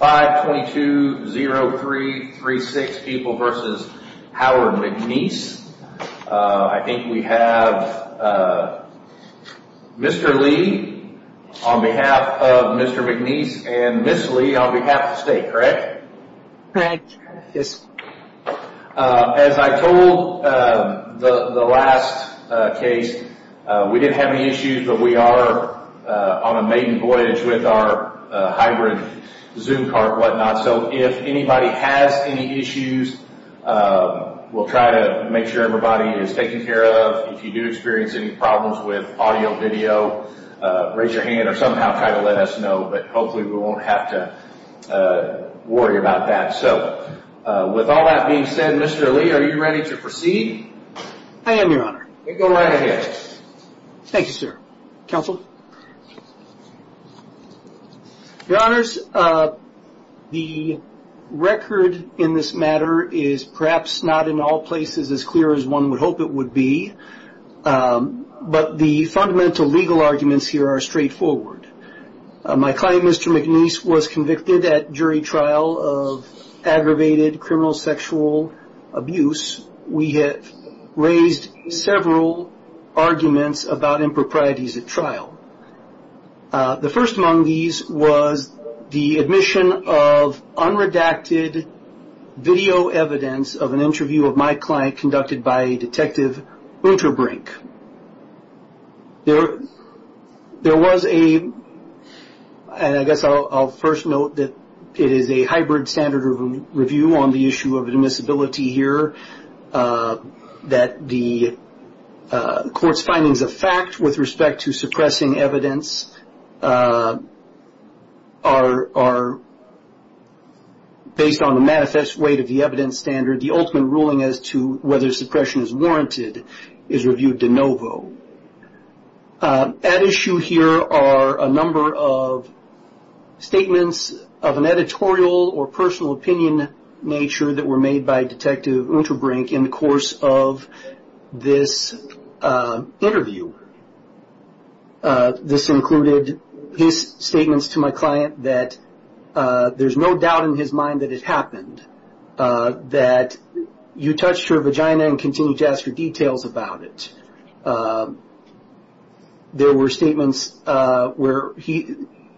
522-0336 people versus Howard McNece. I think we have Mr. Lee on behalf of Mr. McNece and Ms. Lee on behalf of the state, correct? Correct, yes. As I told the last case, we didn't have any issues but we are on a maiden voyage with our hybrid zoom cart, whatnot. So if anybody has any issues, we'll try to make sure everybody is taken care of. If you do experience any problems with audio, video, raise your hand or somehow try to let us know. But hopefully we won't have to worry about that. So with all that being said, Mr. Lee, are you ready to proceed? I am, Your Honor. Go right ahead. Thank you, sir. Counsel? Your Honors, the record in this matter is perhaps not in all places as clear as one would hope it would be. But the fundamental legal arguments here are straightforward. My client, Mr. McNece, was convicted at jury trial of aggravated criminal sexual abuse. We have raised several arguments about improprieties at trial. The first among these was the admission of unredacted video evidence of an interview of my client conducted by Detective Winterbrink. There was a, and I guess I'll first note that it issue of admissibility here, that the court's findings of fact with respect to suppressing evidence are based on the manifest weight of the evidence standard. The ultimate ruling as to whether suppression is warranted is reviewed de novo. At issue here are a number of statements of an editorial or personal opinion nature that were made by Detective Winterbrink in the course of this interview. This included his statements to my client that there's no doubt in his mind that it happened, that you touched her vagina and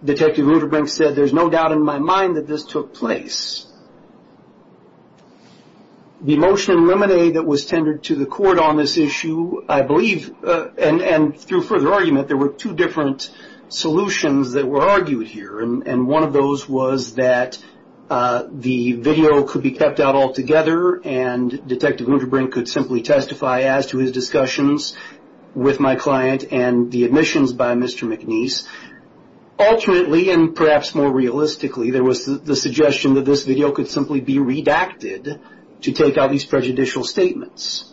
Detective Winterbrink said there's no doubt in my mind that this took place. The motion in limine that was tendered to the court on this issue, I believe, and through further argument there were two different solutions that were argued here. And one of those was that the video could be kept out altogether and Detective Winterbrink could simply testify as to his discussions with my client and the admissions by Mr. McNeese. Alternately, and perhaps more realistically, there was the suggestion that this video could simply be redacted to take out these prejudicial statements.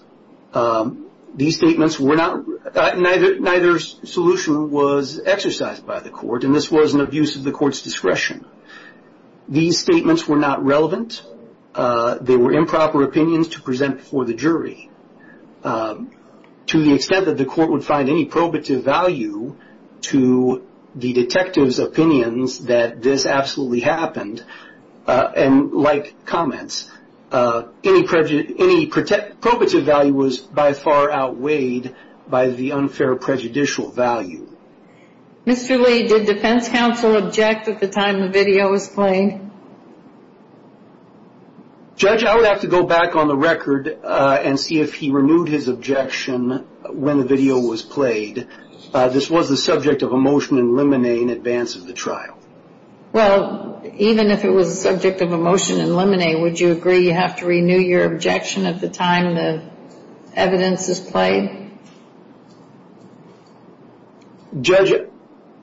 These statements were not, neither solution was exercised by the court and this was an abuse of the court's discretion. These statements were not relevant. They were improper opinions to present before the jury. To the extent that the court would find any probative value to the detective's opinions that this absolutely happened, and like comments, any probative value was by far outweighed by the unfair prejudicial value. Mr. Lee, did defense counsel object at the time the video was played? Judge, I would have to go back on the record and see if he renewed his objection when the video was played. This was the subject of a motion in limine in advance of the trial. Well, even if it was the subject of a motion in limine, would you agree you have to renew your objection at the time the evidence is played? Judge,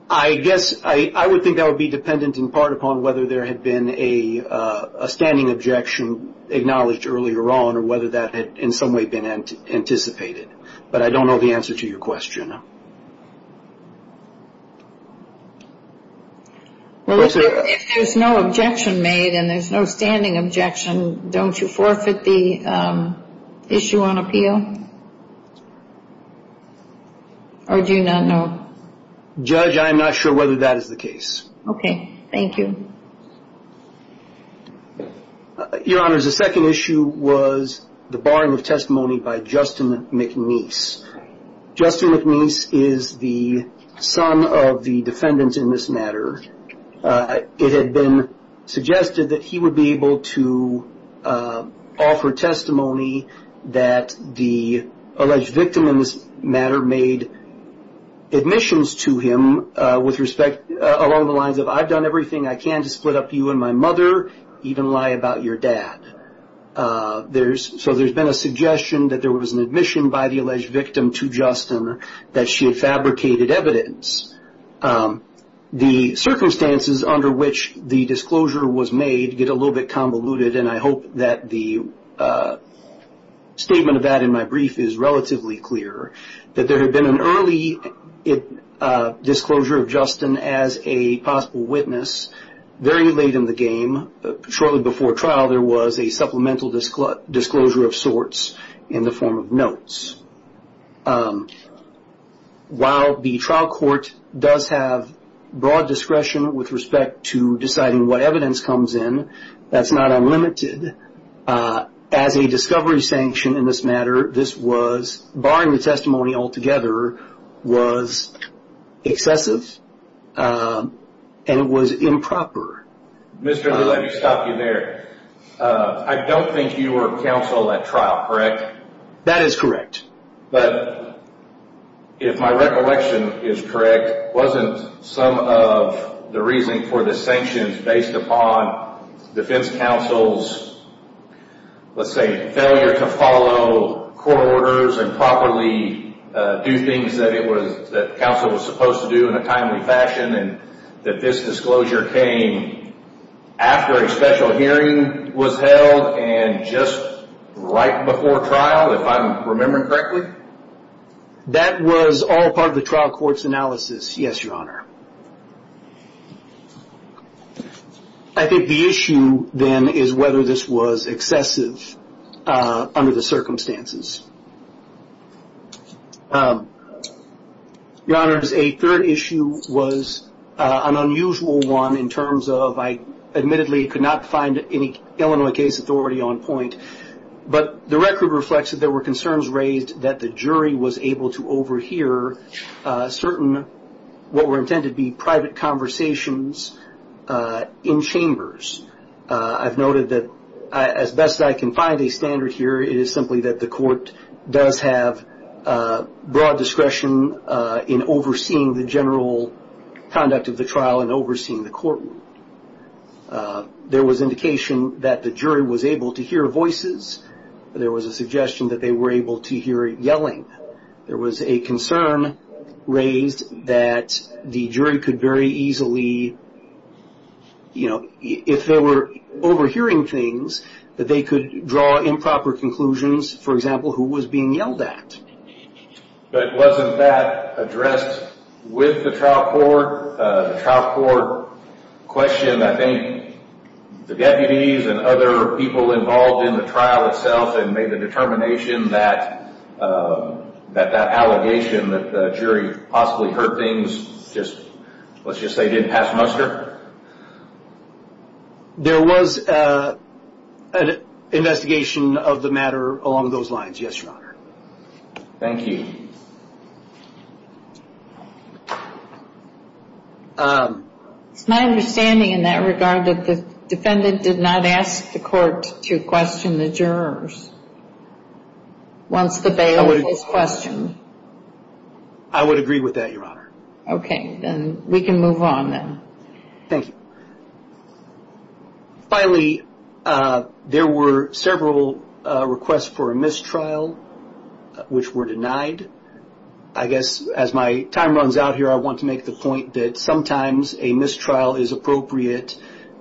I guess I would think I would be dependent in part upon whether there had been a standing objection acknowledged earlier on or whether that had in some way been anticipated. But I don't know the answer to your question. Well, if there's no objection made and there's no standing objection, don't you forfeit the issue on appeal? Or do you not know? Judge, I am not sure whether that is the case. Okay. Thank you. Your Honor, the second issue was the barring of testimony by Justin McNeese. Justin McNeese is the son of the defendant in this matter. It had been suggested that he would be able to offer testimony that the alleged victim in this matter made admissions to him with respect along the lines of, I've done everything I can to split up you and my mother, even lie about your dad. So there's been a suggestion that there was an admission by the alleged victim to Justin that she had fabricated evidence. The circumstances under which the disclosure was made get a little bit convoluted, and I hope that the statement of that in my brief is relatively clear, that there had been an early disclosure of Justin as a possible witness very late in the game. Shortly before trial, there was a supplemental disclosure of sorts in the form of notes. While the trial court does have broad discretion with respect to deciding what evidence comes in, that's not unlimited. As a discovery sanction in this matter, this was, barring the testimony altogether, was excessive and it was improper. Mr. Lill, let me stop you there. I don't think you were counsel at trial, correct? That is correct. But if my recollection is correct, wasn't some of the reason for the sanctions based upon defense counsel's, let's say, failure to follow court orders and properly do things that counsel was supposed to do in a timely fashion and that this disclosure came after a special hearing was held and just right before trial, if I'm remembering correctly? That was all part of the trial court's analysis, yes, your honor. I think the issue then is whether this was excessive under the circumstances. Your honors, a third issue was an unusual one in terms of, I admittedly could not find any Illinois case authority on point, but the record reflects that there were concerns raised that the jury was able to overhear certain, what were intended to be private conversations in chambers. I've noted that as best I can find a standard here, it is simply that the court does have broad discretion in overseeing the general conduct of the trial and overseeing the courtroom. There was indication that the jury was able to hear voices. There was a suggestion that they were able to hear yelling. There was a concern raised that the jury could very easily, if they were overhearing things, that they could draw improper conclusions. For example, who was being yelled at? But wasn't that addressed with the trial court? The trial court questioned, I think, the deputies and other people involved in the trial itself and made the determination that that allegation that the jury possibly heard things, let's just say didn't pass muster? There was an investigation of the matter along those lines, yes, your honor. Thank you. It's my understanding in that regard that the defendant did not ask the court to question the jurors once the bail was questioned. I would agree with that, your honor. Okay, then we can move on then. Thank you. Finally, there were several requests for a mistrial which were denied. I guess as my time runs out here, I want to make the point that sometimes a mistrial is appropriate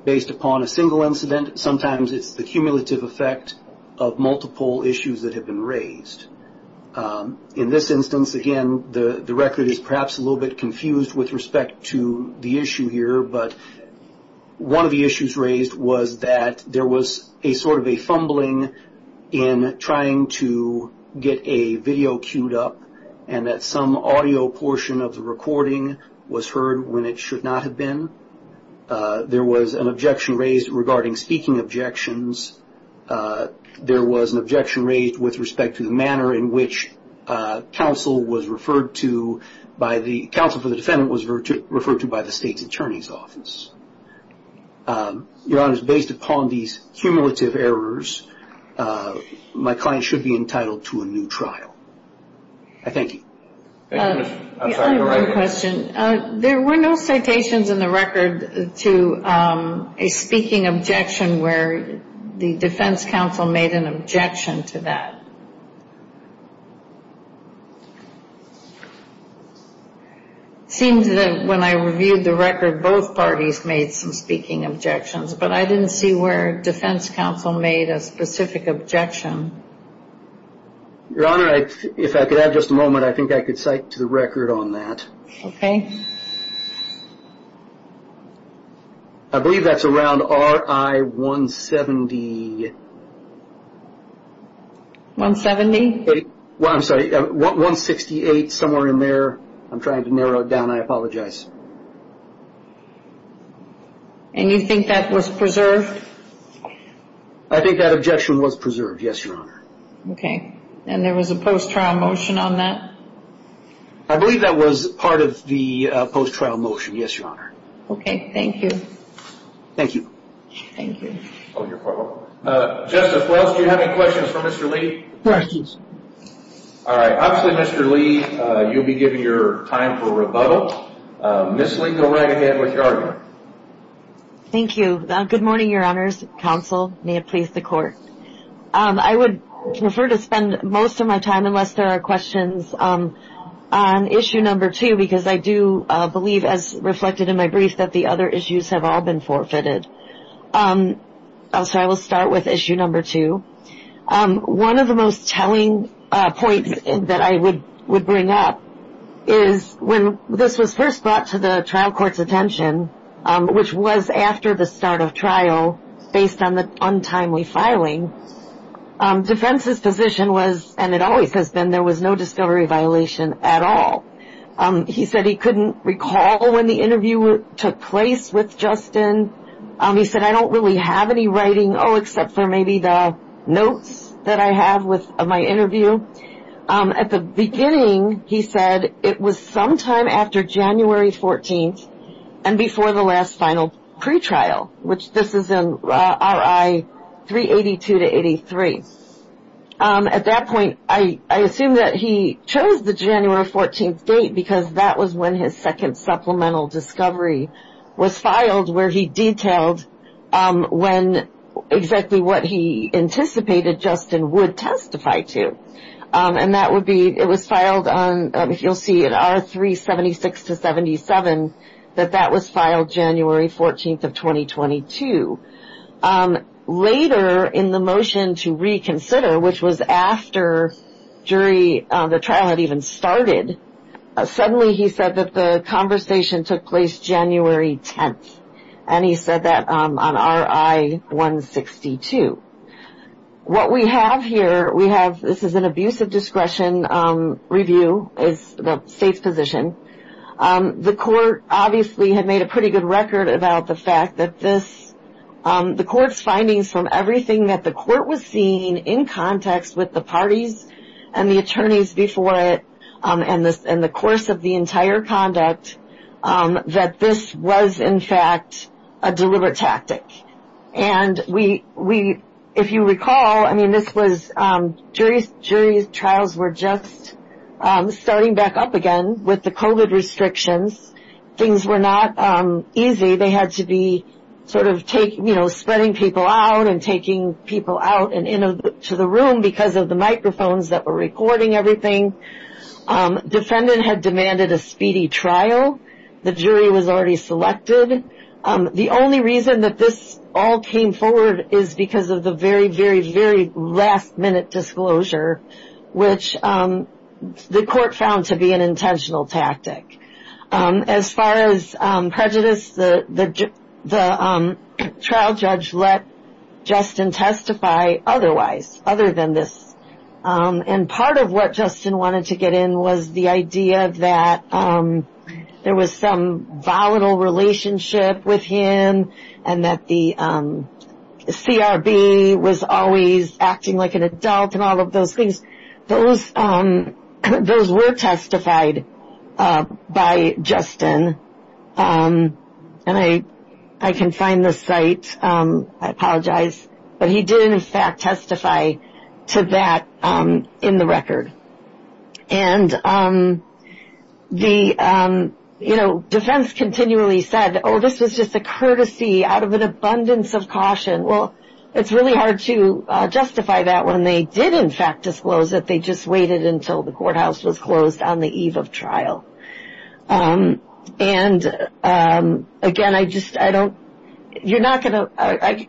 based upon a single incident. Sometimes it's the cumulative effect of multiple issues that have been raised. In this instance, again, the record is perhaps a little bit confused with respect to the issue here, but one of the issues raised was that there was a sort of a fumbling in trying to get a video cued up and that some audio portion of the recording was heard when it should not have been. There was an objection raised regarding speaking objections. There was an objection raised with respect to the manner in which counsel was referred to by the counsel for the defendant was referred to by the state's attorney's office. Your honor, based upon these cumulative errors, my client should be entitled to a new trial. I thank you. I have one question. There were no citations in the record to a speaking objection where the defense counsel made an objection to that. It seems that when I reviewed the record, both parties made some speaking objections, but I didn't see where defense counsel made a specific objection. Your honor, if I could have just a moment, I think I could cite to the record on that. Okay. I believe that's around RI 170. 170? Well, I'm sorry, 168, somewhere in there. I'm trying to narrow it down. I apologize. And you think that was preserved? I think that objection was preserved, yes, your honor. Okay. And there was a post-trial motion on that? I believe that was part of the post-trial motion, yes, your honor. Okay. Thank you. Thank you. Thank you. Justice Wells, do you have any questions for Mr. Lee? Questions. All right. Obviously, Mr. Lee, you'll be given your time for rebuttal. Ms. Lee, go right ahead with your argument. Thank you. Good morning, your honors, counsel. May it please the court. I would prefer to spend most of my time, unless there are questions, on issue number two, because I do believe, as reflected in my brief, that the other issues have all been forfeited. So I will start with issue number two. One of the most telling points that I would bring up is when this was first brought to the trial court's attention, which was after the start of trial, based on the untimely filing, defense's position was, and it always has been, there was no discovery violation at all. He said he couldn't recall when the interview took place with Justin. He said, I don't really have any writing, oh, except for maybe the notes that I have of my interview. At the beginning, he said it was sometime after January 14th and before the last final pretrial, which this is in RI 382-83. At that point, I assume that he chose the January 14th date because that was when his second supplemental discovery was filed, where he detailed when exactly what he anticipated Justin would testify to. And that would be, it was filed on, you'll see in R376-77, that that was filed January 14th of 2022. Later, in the motion to reconsider, which was after jury, the trial had even started, suddenly he said that the conversation took place January 10th. And he said that on RI 162. What we have here, we have, this is an abusive discretion review, is the state's position. The court obviously had made a pretty good record about the fact that this, the court's findings from everything that the court was seeing in context with the parties and the attorneys before it and the course of the entire conduct, that this was, in fact, a deliberate tactic. And we, if you recall, I mean, this was, jury trials were just starting back up again with the COVID restrictions. Things were not easy. They had to be sort of take, you know, spreading people out and taking people out and into the room because of the microphones that were recording everything. Defendant had demanded a speedy trial. The jury was already selected. The only reason that this all came forward is because of the very, very, very last minute disclosure, which the court found to be an intentional tactic. As far as prejudice, the trial judge let Justin testify otherwise, other than this. And part of what Justin wanted to get in was the idea that there was some volatile relationship with him and that the CRB was always acting like an adult and all of those things. Those were testified by Justin. And I can find the site. I apologize. But he did, in fact, testify to that in the record. And the, you know, defense continually said, oh, this was just a courtesy out of an abundance of caution. Well, it's really hard to justify that when they did, in fact, disclose that they just waited until the courthouse was closed on the eve of trial. And, again, I just, I don't, you're not going to,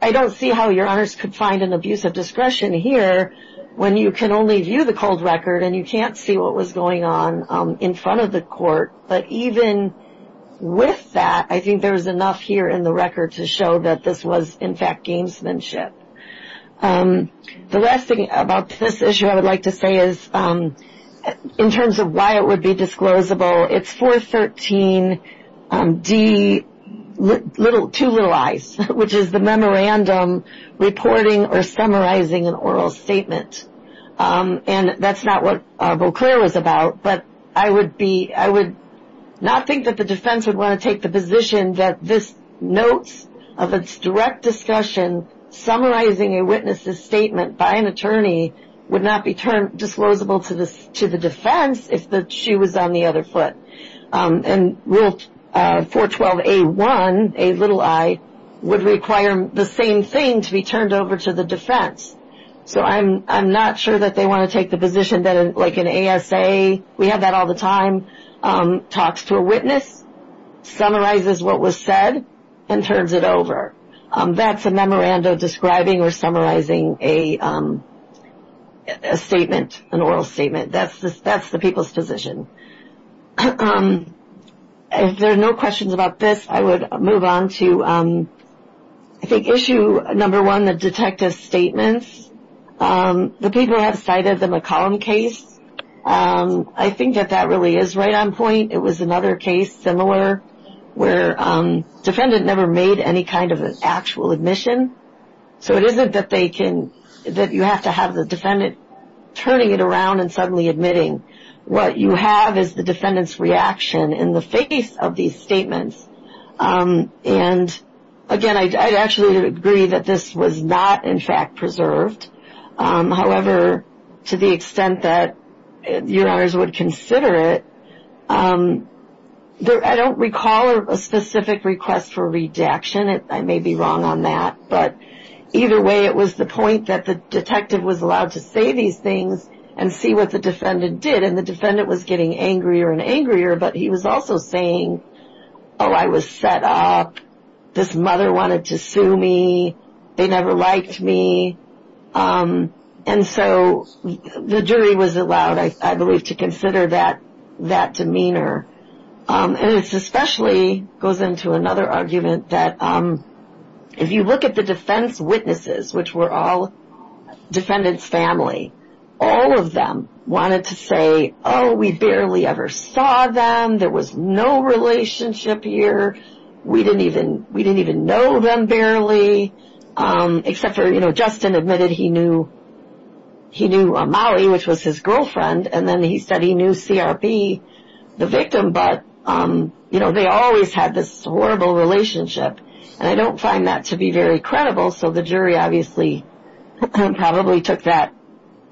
I don't see how your honors could find an abuse of discretion here when you can only view the cold record and you can't see what was going on in front of the court. But even with that, I think there was enough here in the record to show that this was, in fact, gamesmanship. The last thing about this issue I would like to say is, in terms of why it would be disclosable, it's 413D, two little I's, which is the memorandum reporting or summarizing an oral statement. And that's not what Beauclair was about. But I would be, I would not think that the defense would want to take the position that this notes of its direct discussion, summarizing a witness's statement by an attorney, would not be disclosable to the defense if she was on the other foot. And Rule 412A1, a little I, would require the same thing to be turned over to the defense. So I'm not sure that they want to take the position that like an ASA, we have that all the time, talks to a witness, summarizes what was said, and turns it over. That's a memorandum describing or summarizing a statement, an oral statement. That's the people's position. If there are no questions about this, I would move on to I think issue number one, the detective statements. The people have cited the McCollum case. I think that that really is right on point. It was another case similar where the defendant never made any kind of an actual admission. So it isn't that they can, that you have to have the defendant turning it around and suddenly admitting. What you have is the defendant's reaction in the face of these statements. And again, I'd actually agree that this was not in fact preserved. However, to the extent that you and I would consider it, I don't recall a specific request for redaction. I may be wrong on that. But either way, it was the point that the detective was allowed to say these things and see what the defendant did. And the defendant was getting angrier and angrier, but he was also saying, oh, I was set up. This mother wanted to sue me. They never liked me. And so the jury was allowed, I believe, to consider that demeanor. And this especially goes into another argument that if you look at the defense witnesses, which were all defendants' family, all of them wanted to say, oh, we barely ever saw them. There was no relationship here. We didn't even know them barely. Except for, you know, Justin admitted he knew Molly, which was his girlfriend, and then he said he knew CRB, the victim, but, you know, they always had this horrible relationship. And I don't find that to be very credible, so the jury obviously probably took that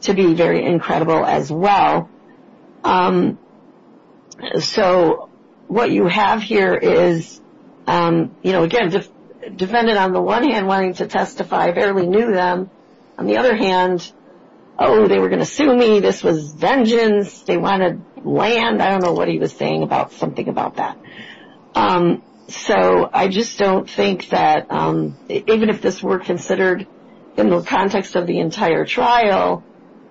to be very incredible as well. So what you have here is, you know, again, defendant on the one hand wanting to testify, barely knew them. On the other hand, oh, they were going to sue me. This was vengeance. They wanted land. I don't know what he was saying about something about that. So I just don't think that even if this were considered in the context of the entire trial,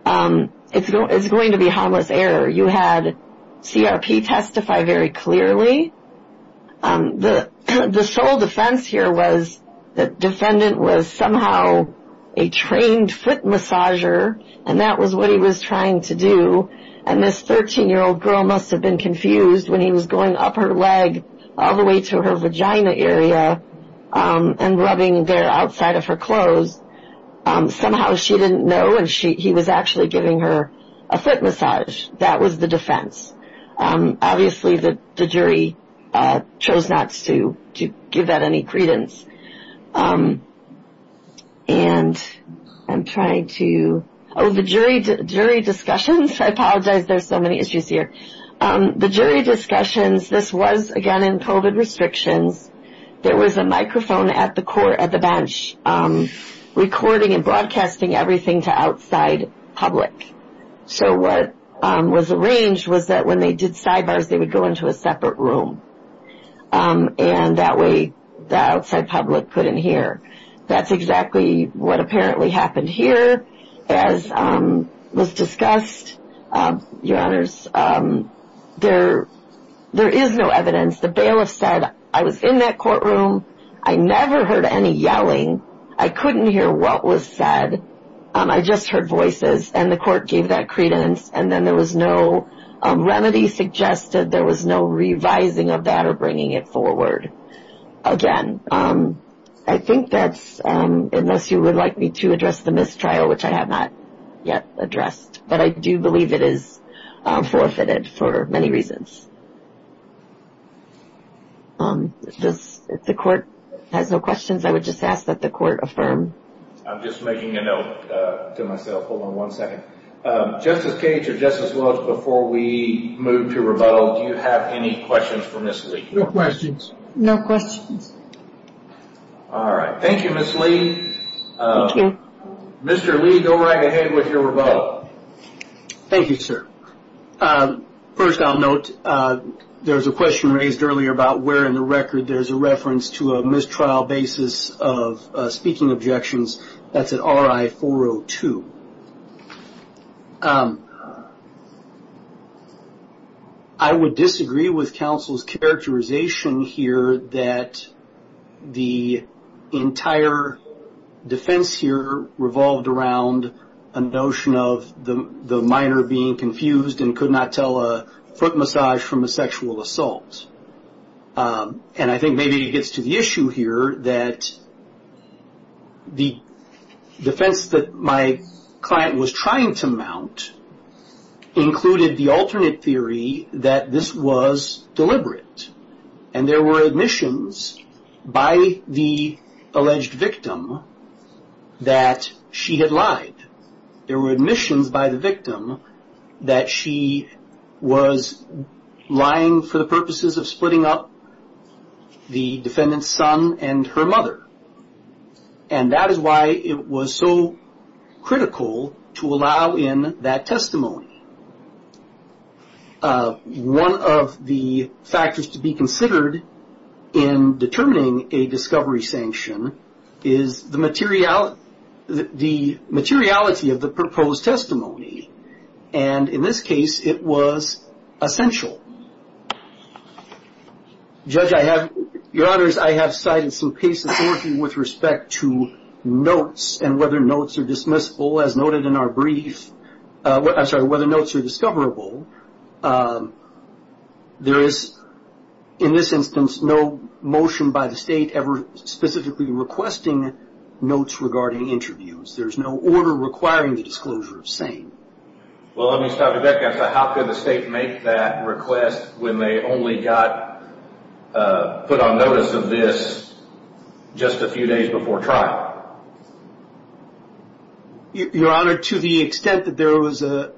it's going to be harmless error. You had CRP testify very clearly. The sole defense here was the defendant was somehow a trained foot massager, and that was what he was trying to do, and this 13-year-old girl must have been confused when he was going up her leg all the way to her vagina area and rubbing there outside of her clothes. Somehow she didn't know, and he was actually giving her a foot massage. That was the defense. Obviously, the jury chose not to give that any credence. And I'm trying to – oh, the jury discussions? I apologize. There's so many issues here. The jury discussions, this was, again, in COVID restrictions. There was a microphone at the bench recording and broadcasting everything to outside public. So what was arranged was that when they did sidebars, they would go into a separate room, and that way the outside public couldn't hear. That's exactly what apparently happened here. As was discussed, Your Honors, there is no evidence. The bailiff said, I was in that courtroom. I never heard any yelling. I couldn't hear what was said. I just heard voices, and the court gave that credence, and then there was no remedy suggested. There was no revising of that or bringing it forward. Again, I think that's unless you would like me to address the mistrial, which I have not yet addressed, but I do believe it is forfeited for many reasons. If the court has no questions, I would just ask that the court affirm. I'm just making a note to myself. Hold on one second. Justice Cage or Justice Williams, before we move to rebuttal, do you have any questions for Ms. Lee? No questions. No questions. All right. Thank you, Ms. Lee. Thank you. Mr. Lee, go right ahead with your rebuttal. Thank you, sir. First, I'll note there was a question raised earlier about where in the record there's a reference to a mistrial basis of speaking objections. That's at RI-402. I would disagree with counsel's characterization here that the entire defense here revolved around a notion of the minor being confused and could not tell a foot massage from a sexual assault. And I think maybe it gets to the issue here that the defense that my client was trying to mount included the alternate theory that this was deliberate. And there were admissions by the alleged victim that she had lied. There were admissions by the victim that she was lying for the purposes of splitting up the defendant's son and her mother. And that is why it was so critical to allow in that testimony. One of the factors to be considered in determining a discovery sanction is the materiality of the proposed testimony. And in this case, it was essential. Judge, I have – Your Honors, I have cited some cases working with respect to notes and whether notes are dismissible as noted in our brief – I'm sorry, whether notes are discoverable. There is, in this instance, no motion by the state ever specifically requesting notes regarding interviews. There's no order requiring the disclosure of same. Well, let me start with that. How could the state make that request when they only got put on notice of this just a few days before trial? Your Honor, to the extent that there was an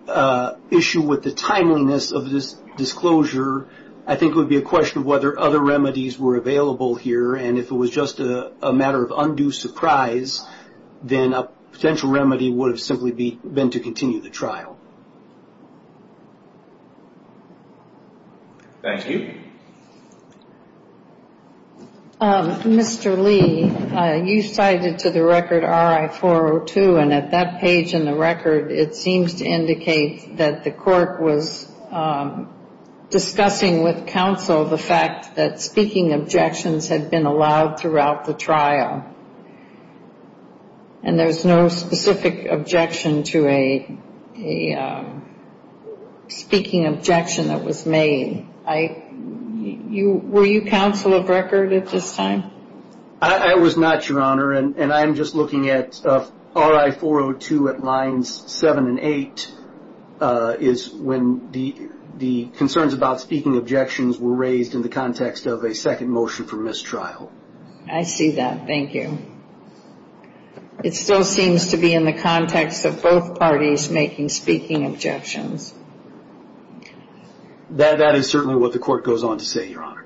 issue with the timeliness of this disclosure, I think it would be a question of whether other remedies were available here. And if it was just a matter of undue surprise, then a potential remedy would have simply been to continue the trial. Thank you. Mr. Lee, you cited to the record RI-402, and at that page in the record, it seems to indicate that the court was discussing with counsel the fact that speaking objections had been allowed throughout the trial. And there's no specific objection to a speaking objection that was made. Were you counsel of record at this time? I was not, Your Honor. And I'm just looking at RI-402 at lines 7 and 8 is when the concerns about speaking objections were raised in the context of a second motion for mistrial. I see that. Thank you. It still seems to be in the context of both parties making speaking objections. That is certainly what the court goes on to say, Your Honor.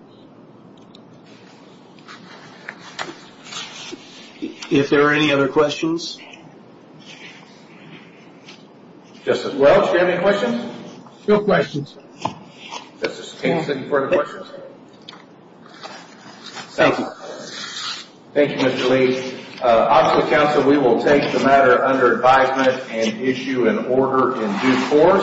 If there are any other questions? Justice Welch, do you have any questions? No questions. Justice Kagan, any further questions? Thank you. Thank you, Mr. Lee. Obviously, counsel, we will take the matter under advisement and issue an order in due course.